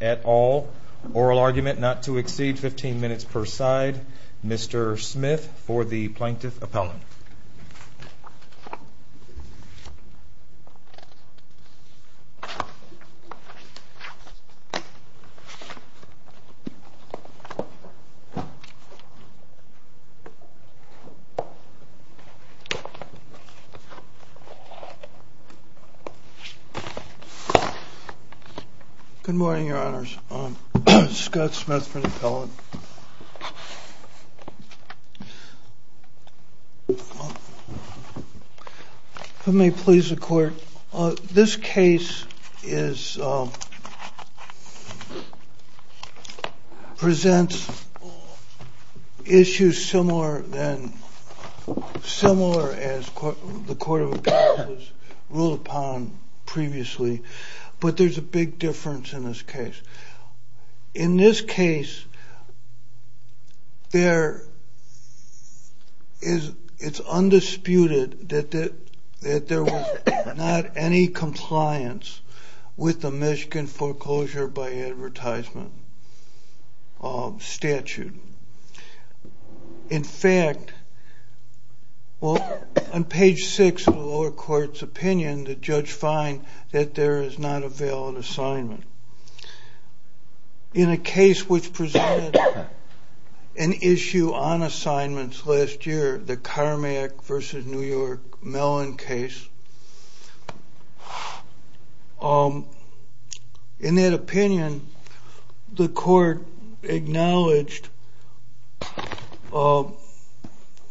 at all. Oral argument not to exceed 15 minutes per side. Mr. Smith for the Plaintiff Appellant. Good morning, Your Honors. Scott Smith for the Appellant. If it may please the Court, this case presents issues similar as the Court of Appeals ruled upon previously, but there's a big difference in this case. In this case, it's undisputed that there was not any compliance with the Michigan Foreclosure by Advertisement statute. In fact, on page 6 of the lower court's opinion, the judge finds that there is not a valid assignment. In a case which presented an issue on assignments last year, the Carmack v. New York Mellon case, in that opinion, the court acknowledged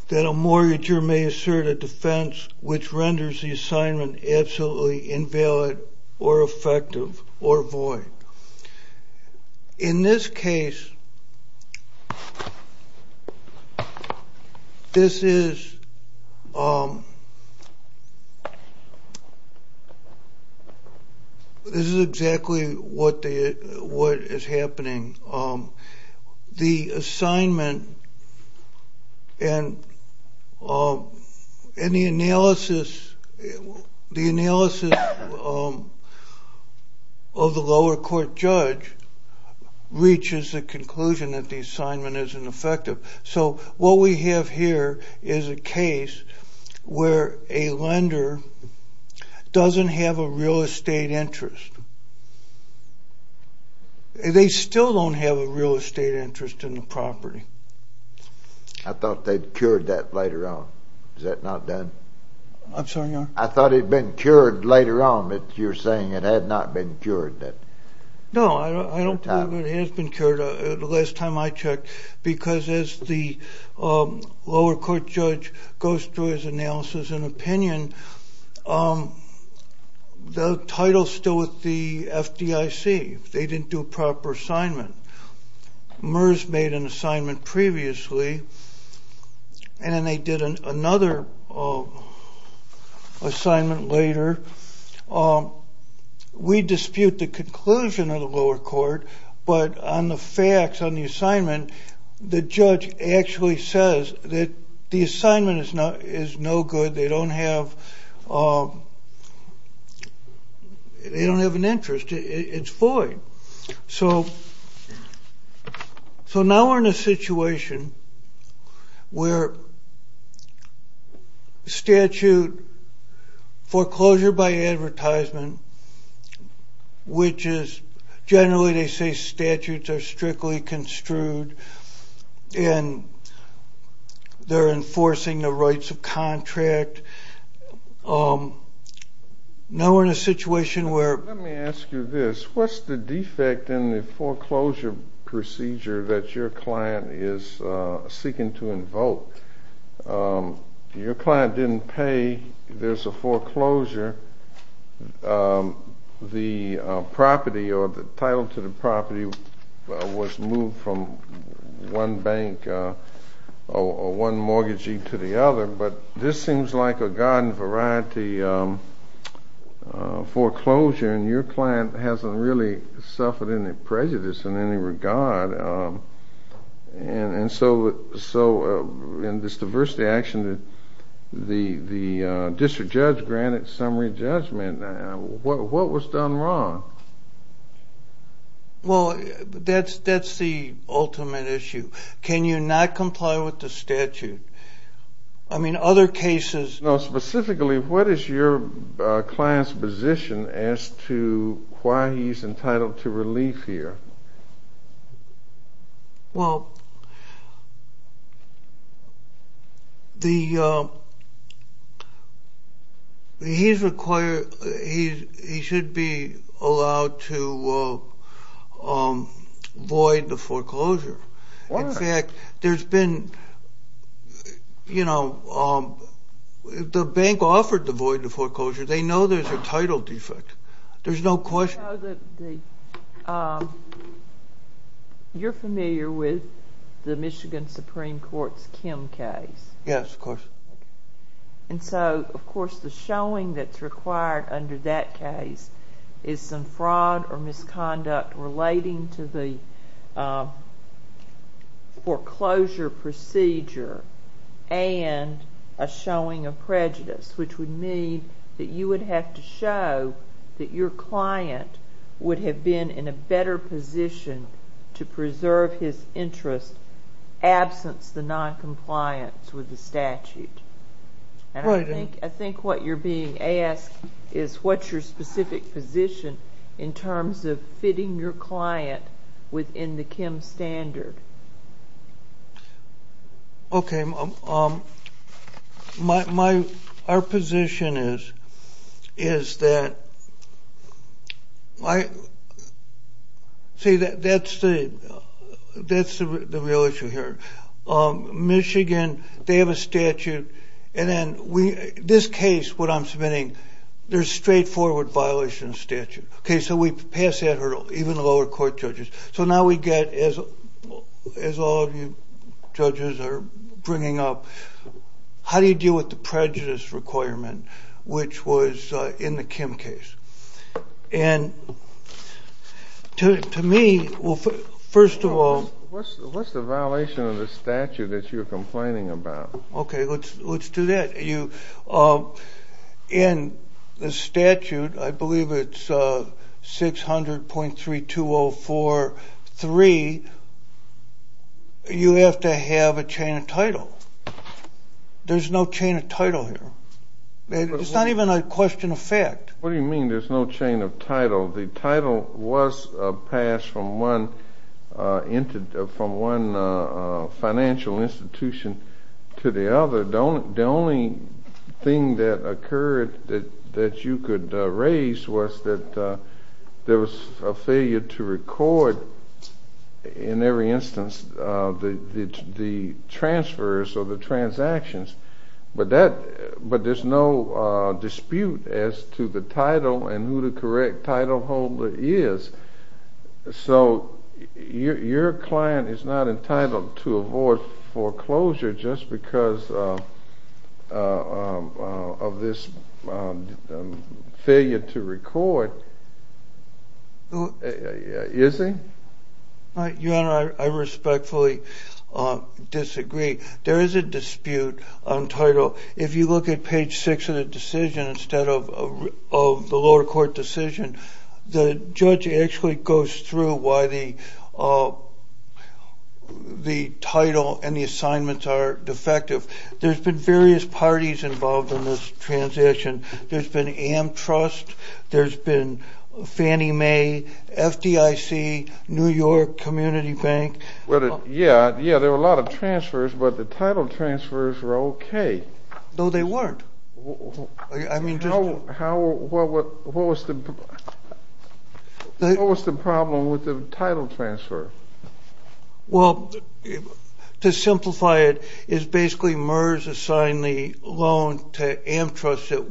that a mortgager may assert a defense which renders the assignment absolutely invalid or effective or void. In this case, this is exactly what is happening. The assignment and the analysis of the lower court judge reaches the conclusion that the assignment isn't effective. So what we have here is a case where a lender doesn't have a real estate interest. They still don't have a real estate interest in the property. I thought they'd cured that later on. Is that not done? I'm sorry, Your Honor? I thought it had been cured later on, but you're saying it had not been cured. No, I don't believe it has been cured. The last time I checked, because as the lower court judge goes through his analysis and opinion, the title's still with the FDIC. They didn't do a proper assignment. MERS made an assignment previously, and then they did another assignment later. We dispute the conclusion of the lower court, but on the facts, on the assignment, the judge actually says that the assignment is no good. They don't have an interest. It's void. So now we're in a situation where statute foreclosure by advertisement, which is generally they say statutes are strictly construed, and they're enforcing the rights of contract. Now we're in a situation where- There's a defect in the foreclosure procedure that your client is seeking to invoke. Your client didn't pay. There's a foreclosure. The property or the title to the property was moved from one bank or one mortgagee to the other, but this seems like a garden variety foreclosure, and your client hasn't really suffered any prejudice in any regard. And so in this diversity action, the district judge granted summary judgment. What was done wrong? Well, that's the ultimate issue. Can you not comply with the statute? I mean, other cases- No, specifically, what is your client's position as to why he's entitled to relief here? Well, he should be allowed to void the foreclosure. In fact, the bank offered to void the foreclosure. They know there's a title defect. There's no question. You're familiar with the Michigan Supreme Court's Kim case. Yes, of course. And so, of course, the showing that's required under that case is some fraud or misconduct relating to the foreclosure procedure and a showing of prejudice, which would mean that you would have to show that your client would have been in a better position to preserve his interest absence the noncompliance with the statute. Right. And I think what you're being asked is what's your specific position in terms of fitting your client within the Kim standard. Okay. Our position is that- See, that's the real issue here. Michigan, they have a statute, and then this case, what I'm submitting, there's straightforward violation of statute. Okay, so we pass that hurdle, even lower court judges. So now we get, as all of you judges are bringing up, how do you deal with the prejudice requirement, which was in the Kim case? And to me, first of all- What's the violation of the statute that you're complaining about? Okay, let's do that. In the statute, I believe it's 600.32043, you have to have a chain of title. There's no chain of title here. It's not even a question of fact. What do you mean there's no chain of title? The title was passed from one financial institution to the other. The only thing that occurred that you could raise was that there was a failure to record, in every instance, the transfers or the transactions. But there's no dispute as to the title and who the correct title holder is. So your client is not entitled to avoid foreclosure just because of this failure to record, is he? Your Honor, I respectfully disagree. There is a dispute on title. If you look at page six of the decision, instead of the lower court decision, the judge actually goes through why the title and the assignments are defective. There's been various parties involved in this transition. There's been AmTrust. There's been Fannie Mae, FDIC, New York Community Bank. Yeah, there were a lot of transfers, but the title transfers were okay. No, they weren't. What was the problem with the title transfer? Well, to simplify it, it's basically MERS assigned the loan to AmTrust that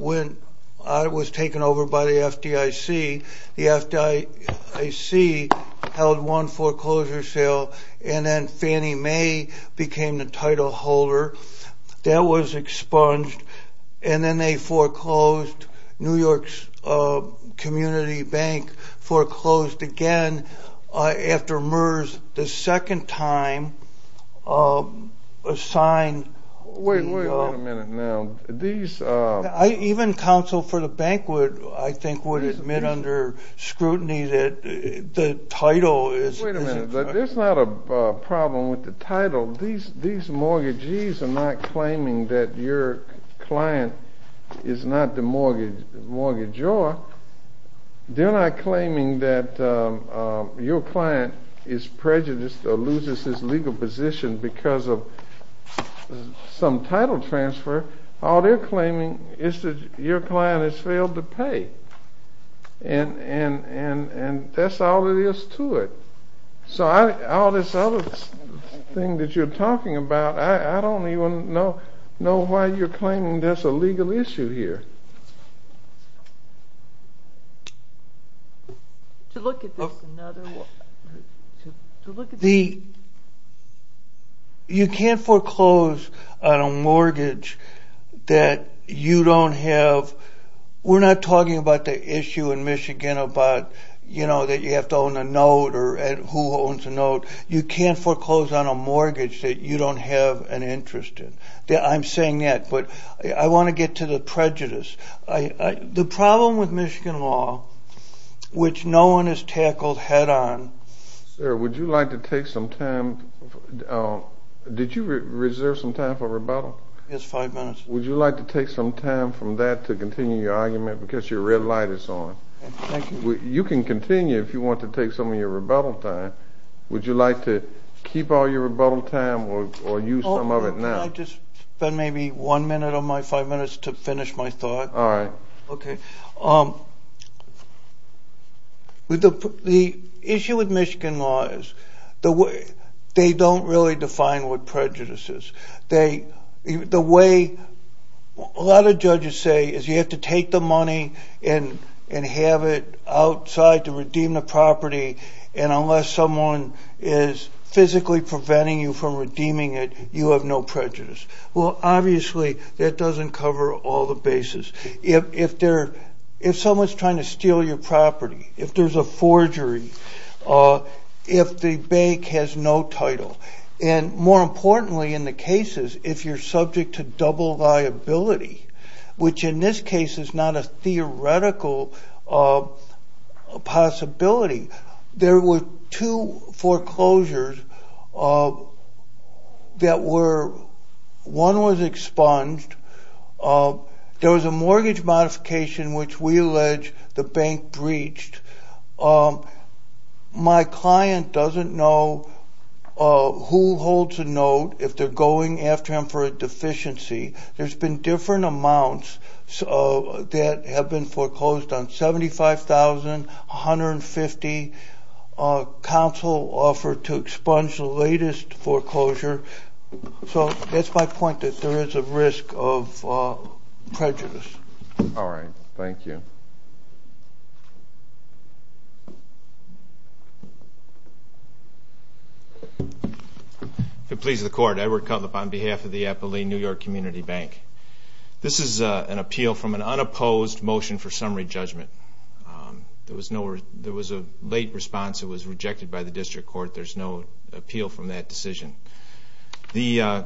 was taken over by the FDIC. The FDIC held one foreclosure sale, and then Fannie Mae became the title holder. That was expunged, and then they foreclosed. New York's Community Bank foreclosed again after MERS the second time assigned the loan. Wait a minute now. Even counsel for the bank, I think, would admit under scrutiny that the title is- Wait a minute. There's not a problem with the title. These mortgagees are not claiming that your client is not the mortgagor. They're not claiming that your client is prejudiced or loses his legal position because of some title transfer. All they're claiming is that your client has failed to pay, and that's all there is to it. So all this other thing that you're talking about, I don't even know why you're claiming there's a legal issue here. You can't foreclose on a mortgage that you don't have- You can't foreclose on a mortgage that you don't have an interest in. I'm saying that, but I want to get to the prejudice. The problem with Michigan law, which no one has tackled head on- Sir, would you like to take some time- Did you reserve some time for rebuttal? Yes, five minutes. Would you like to take some time from that to continue your argument because your red light is on? Thank you. You can continue if you want to take some of your rebuttal time. Would you like to keep all your rebuttal time or use some of it now? Can I just spend maybe one minute of my five minutes to finish my thought? All right. The issue with Michigan law is they don't really define what prejudice is. The way a lot of judges say is you have to take the money and have it outside to redeem the property, and unless someone is physically preventing you from redeeming it, you have no prejudice. Well, obviously, that doesn't cover all the bases. If someone's trying to steal your property, if there's a forgery, if the bank has no title, and more importantly in the cases, if you're subject to double liability, which in this case is not a theoretical possibility. There were two foreclosures that were-one was expunged. There was a mortgage modification which we allege the bank breached. My client doesn't know who holds a note if they're going after him for a deficiency. There's been different amounts that have been foreclosed on 75,000, 150. Council offered to expunge the latest foreclosure. So that's my point, that there is a risk of prejudice. All right. Thank you. If it pleases the Court, Edward Cutlip on behalf of the Appalachian New York Community Bank. This is an appeal from an unopposed motion for summary judgment. There was a late response. It was rejected by the district court. There's no appeal from that decision. I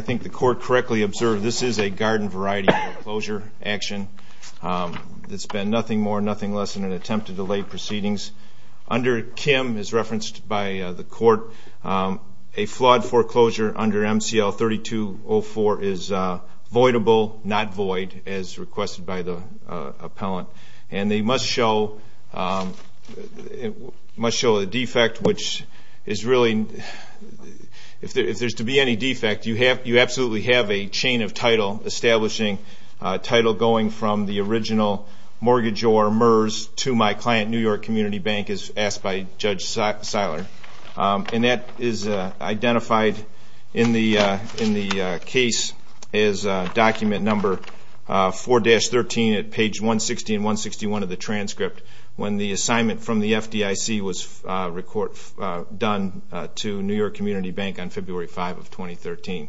think the court correctly observed this is a garden variety foreclosure action. It's been nothing more, nothing less than an attempt to delay proceedings. Under Kim, as referenced by the court, a flawed foreclosure under MCL 3204 is voidable, not void, as requested by the appellant. And they must show a defect, which is really-if there's to be any defect, you absolutely have a chain of title establishing title going from the original mortgage or MERS to my client, New York Community Bank, as asked by Judge Seiler. And that is identified in the case as document number 4-13 at page 160 and 161 of the transcript when the assignment from the FDIC was done to New York Community Bank on February 5 of 2013.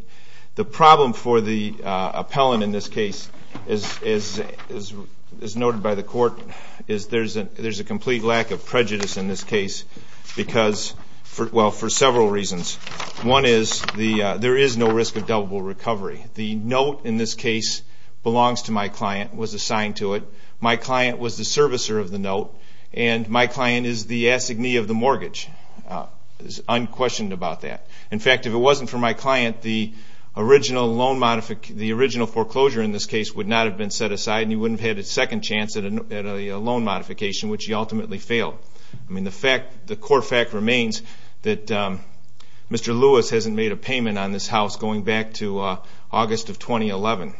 The problem for the appellant in this case, as noted by the court, is there's a complete lack of prejudice in this case because-well, for several reasons. One is there is no risk of deliverable recovery. The note in this case belongs to my client, was assigned to it. My client was the servicer of the note. And my client is the assignee of the mortgage, unquestioned about that. In fact, if it wasn't for my client, the original foreclosure in this case would not have been set aside and he wouldn't have had a second chance at a loan modification, which he ultimately failed. I mean, the fact-the core fact remains that Mr. Lewis hasn't made a payment on this house going back to August of 2011.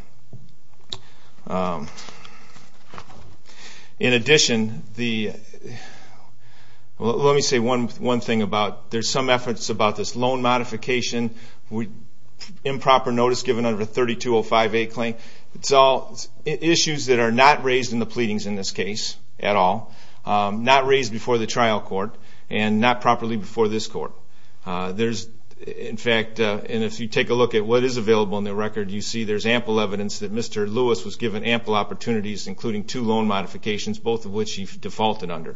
In addition, the-well, let me say one thing about-there's some efforts about this loan modification, improper notice given under the 3205A claim. It's all issues that are not raised in the pleadings in this case at all, not raised before the trial court, and not properly before this court. There's, in fact-and if you take a look at what is available in the record, you see there's ample evidence that Mr. Lewis was given ample opportunities, including two loan modifications, both of which he defaulted under.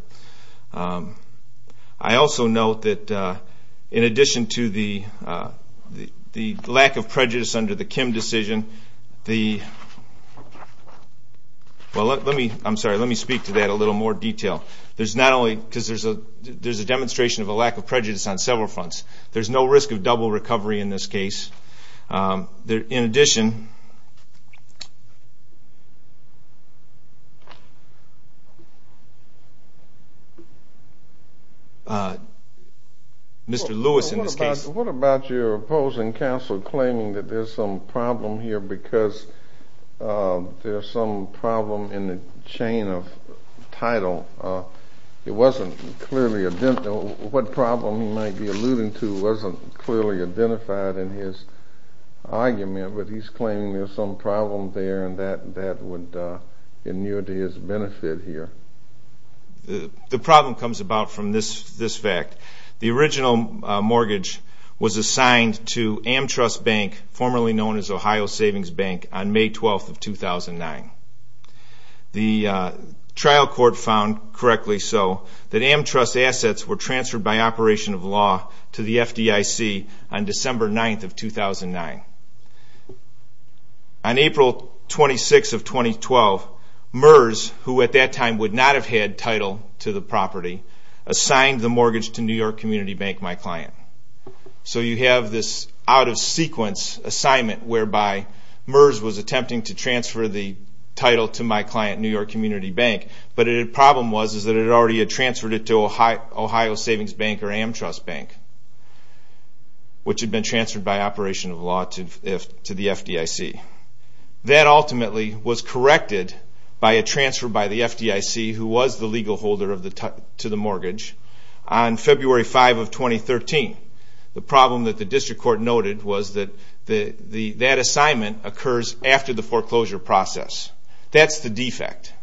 I also note that in addition to the lack of prejudice under the Kim decision, the-well, let me-I'm sorry. Let me speak to that in a little more detail. There's not only-because there's a demonstration of a lack of prejudice on several fronts. There's no risk of double recovery in this case. In addition, Mr. Lewis in this case- What about your opposing counsel claiming that there's some problem here because there's some problem in the chain of title. It wasn't clearly-what problem he might be alluding to wasn't clearly identified in his argument, but he's claiming there's some problem there and that would inure to his benefit here. The problem comes about from this fact. The original mortgage was assigned to AmTrust Bank, formerly known as Ohio Savings Bank, on May 12th of 2009. The trial court found, correctly so, that AmTrust assets were transferred by operation of law to the FDIC on December 9th of 2009. On April 26th of 2012, MERS, who at that time would not have had title to the property, assigned the mortgage to New York Community Bank, my client. So you have this out-of-sequence assignment whereby MERS was attempting to transfer the title to my client, New York Community Bank, but the problem was that it had already transferred it to Ohio Savings Bank or AmTrust Bank, which had been transferred by operation of law to the FDIC. That ultimately was corrected by a transfer by the FDIC, who was the legal holder to the mortgage, on February 5th of 2013. The problem that the district court noted was that that assignment occurs after the foreclosure process. That's the defect.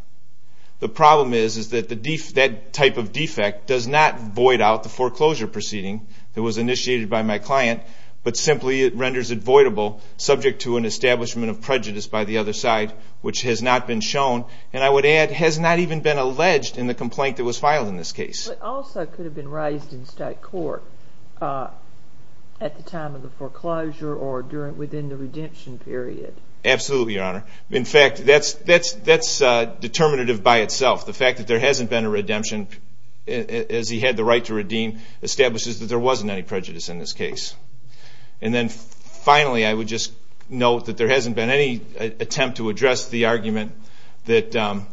The problem is that that type of defect does not void out the foreclosure proceeding that was initiated by my client, but simply it renders it voidable subject to an establishment of prejudice by the other side, which has not been shown and, I would add, has not even been alleged in the complaint that was filed in this case. It also could have been raised in state court at the time of the foreclosure or within the redemption period. Absolutely, Your Honor. In fact, that's determinative by itself. The fact that there hasn't been a redemption as he had the right to redeem establishes that there wasn't any prejudice in this case. And then finally, I would just note that there hasn't been any attempt to address the argument that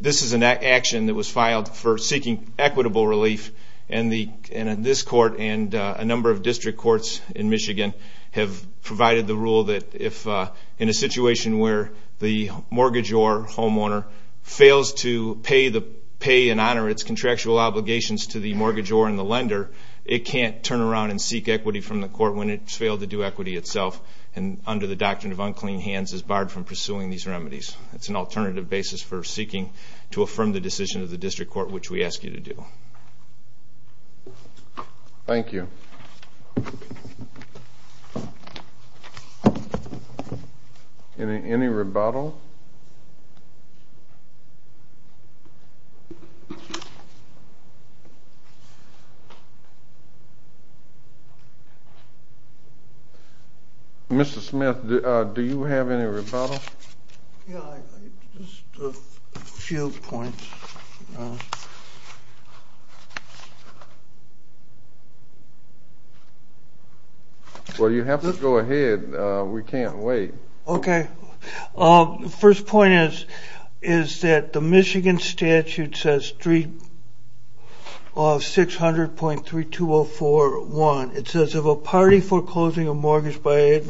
this is an action that was filed for seeking equitable relief, and this court and a number of district courts in Michigan have provided the rule that if in a situation where the mortgage or homeowner fails to pay and honor its contractual obligations to the mortgagor and the lender, it can't turn around and seek equity from the court when it's failed to do equity itself and under the doctrine of unclean hands is barred from pursuing these remedies. It's an alternative basis for seeking to affirm the decision of the district court, which we ask you to do. Thank you. Thank you. Any rebuttal? Mr. Smith, do you have any rebuttal? Just a few points. Well, you have to go ahead. We can't wait. Okay. The first point is that the Michigan statute says 600.3204.1. It says, of a party foreclosing a mortgage by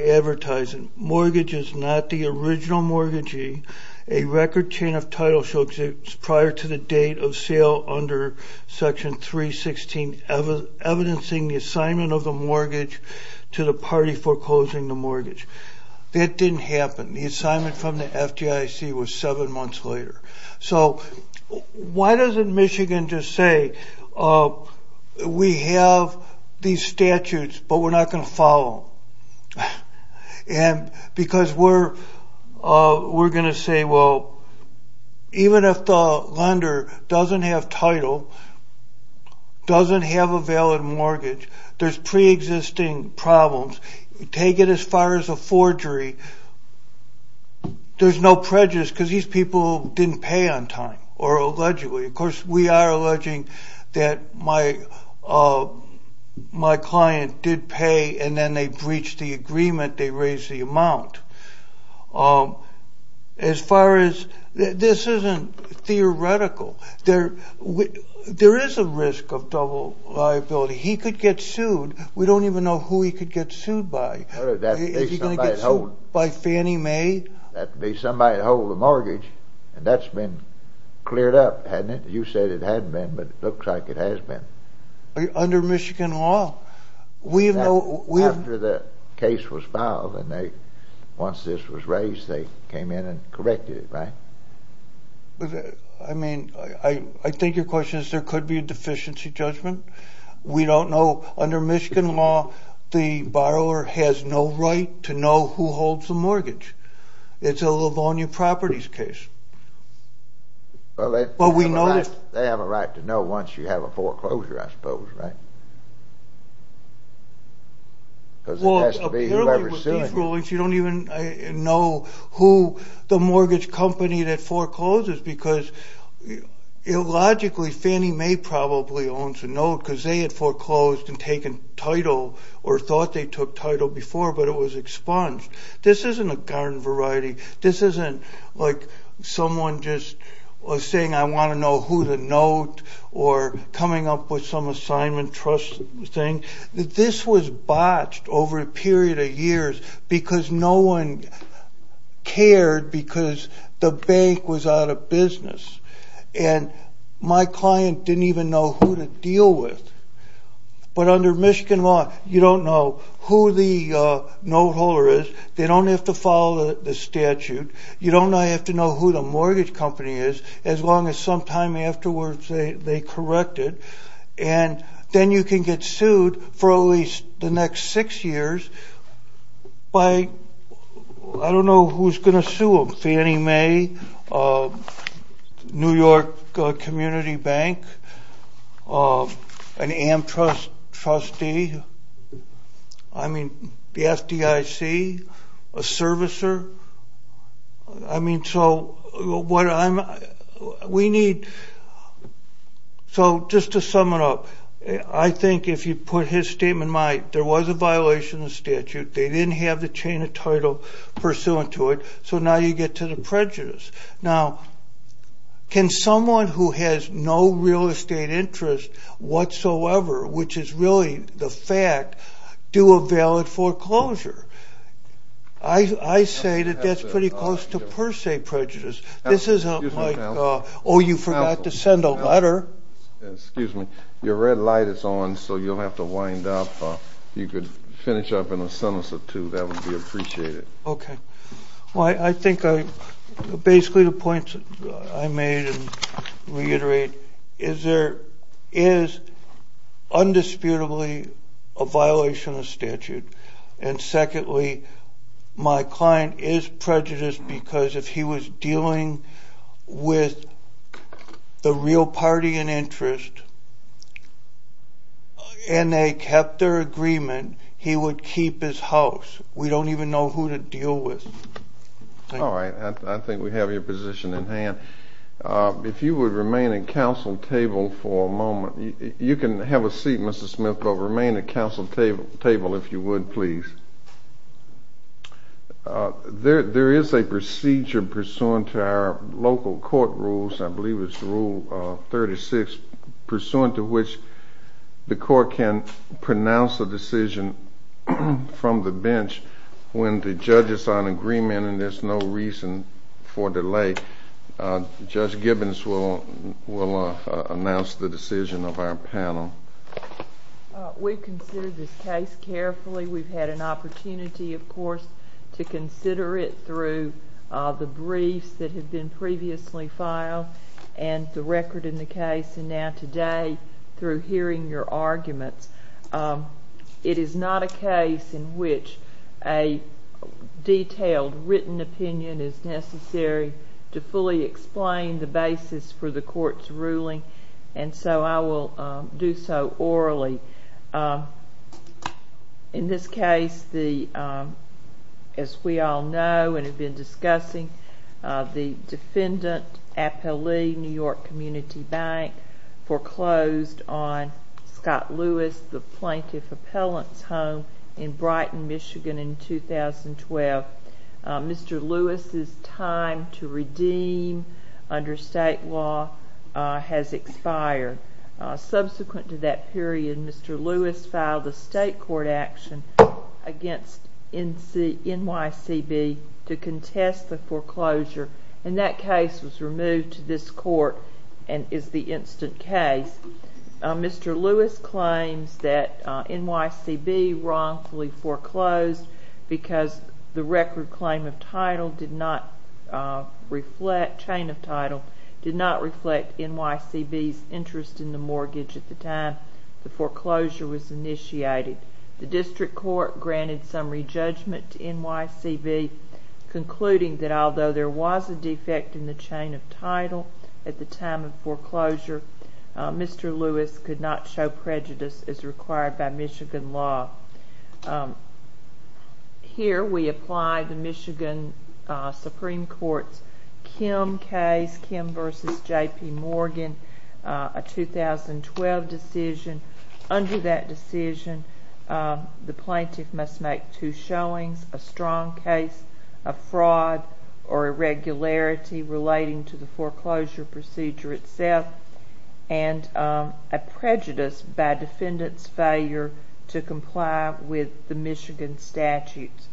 advertising. Mortgage is not the original mortgagee. A record chain of title shall exist prior to the date of sale under Section 316, evidencing the assignment of the mortgage to the party foreclosing the mortgage. That didn't happen. The assignment from the FDIC was seven months later. So why doesn't Michigan just say, we have these statutes, but we're not going to follow them? Because we're going to say, well, even if the lender doesn't have title, doesn't have a valid mortgage, there's preexisting problems. Take it as far as a forgery. There's no prejudice because these people didn't pay on time, or allegedly. Of course, we are alleging that my client did pay, and then they breached the agreement. They raised the amount. As far as this isn't theoretical, there is a risk of double liability. He could get sued. We don't even know who he could get sued by. Is he going to get sued by Fannie Mae? That would be somebody to hold the mortgage, and that's been cleared up, hasn't it? You said it hadn't been, but it looks like it has been. Under Michigan law, we have no... After the case was filed, and once this was raised, they came in and corrected it, right? I mean, I think your question is there could be a deficiency judgment. We don't know. Under Michigan law, the borrower has no right to know who holds the mortgage. It's a Livonia Properties case. Well, they have a right to know once you have a foreclosure, I suppose, right? Because it has to be whoever's suing. You don't even know who the mortgage company that forecloses because illogically, Fannie Mae probably owns a note because they had foreclosed and taken title or thought they took title before, but it was expunged. This isn't a garden variety. This isn't like someone just saying, I want to know who to note or coming up with some assignment trust thing. This was botched over a period of years because no one cared because the bank was out of business, and my client didn't even know who to deal with. But under Michigan law, you don't know who the note holder is. They don't have to follow the statute. You don't have to know who the mortgage company is as long as sometime afterwards they correct it, and then you can get sued for at least the next six years by, I don't know who's going to sue them, Fannie Mae, New York Community Bank, an AmTrust trustee, I mean, the FDIC, a servicer. I mean, so what I'm – we need – so just to sum it up, I think if you put his statement in mind, there was a violation of the statute. They didn't have the chain of title pursuant to it, so now you get to the prejudice. Now, can someone who has no real estate interest whatsoever, which is really the fact, do a valid foreclosure? I say that that's pretty close to per se prejudice. This isn't like, oh, you forgot to send a letter. Excuse me. Your red light is on, so you'll have to wind up. If you could finish up in a sentence or two, that would be appreciated. Okay. Well, I think basically the points I made and reiterate is there is undisputably a violation of the statute, and secondly, my client is prejudiced because if he was dealing with the real party in interest and they kept their agreement, he would keep his house. We don't even know who to deal with. All right. I think we have your position in hand. If you would remain at council table for a moment. You can have a seat, Mr. Smith, but remain at council table if you would, please. There is a procedure pursuant to our local court rules, I believe it's rule 36, pursuant to which the court can pronounce a decision from the bench when the judges are in agreement and there's no reason for delay. Judge Gibbons will announce the decision of our panel. We considered this case carefully. We've had an opportunity, of course, to consider it through the briefs that have been previously filed and the record in the case and now today through hearing your arguments. It is not a case in which a detailed written opinion is necessary to fully explain the basis for the court's ruling, and so I will do so orally. In this case, as we all know and have been discussing, the defendant appellee, New York Community Bank, foreclosed on Scott Lewis, the plaintiff appellant's home in Brighton, Michigan, in 2012. Mr. Lewis's time to redeem under state law has expired. Subsequent to that period, Mr. Lewis filed a state court action against NYCB to contest the foreclosure, and that case was removed to this court and is the instant case. Mr. Lewis claims that NYCB wrongfully foreclosed because the record claim of title did not reflect, that chain of title did not reflect NYCB's interest in the mortgage at the time the foreclosure was initiated. The district court granted summary judgment to NYCB, concluding that although there was a defect in the chain of title at the time of foreclosure, Mr. Lewis could not show prejudice as required by Michigan law. Here we apply the Michigan Supreme Court's Kim case, Kim v. J.P. Morgan, a 2012 decision. Under that decision, the plaintiff must make two showings, a strong case of fraud or irregularity relating to the foreclosure procedure itself and a prejudice by defendant's failure to comply with the Michigan statutes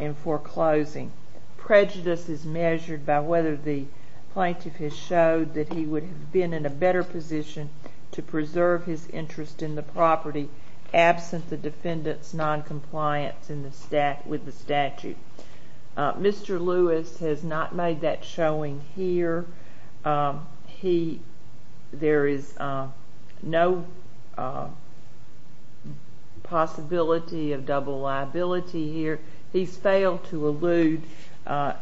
in foreclosing. Prejudice is measured by whether the plaintiff has showed that he would have been in a better position to preserve his interest in the property absent the defendant's noncompliance with the statute. Mr. Lewis has not made that showing here. He, there is no possibility of double liability here. He's failed to allude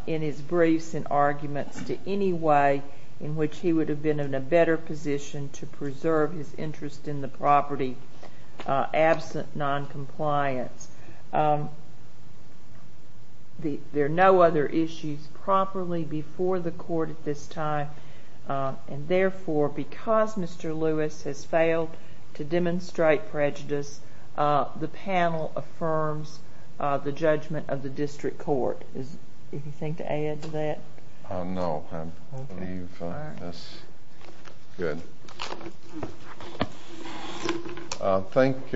in his briefs and arguments to any way in which he would have been in a better position to preserve his interest in the property absent noncompliance. There are no other issues properly before the court at this time, and therefore because Mr. Lewis has failed to demonstrate prejudice, the panel affirms the judgment of the district court. Is there anything to add to that? No, I believe that's good. Thank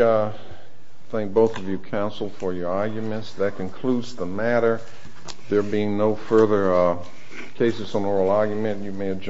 both of you, counsel, for your arguments. That concludes the matter. There being no further cases on oral argument, you may adjourn.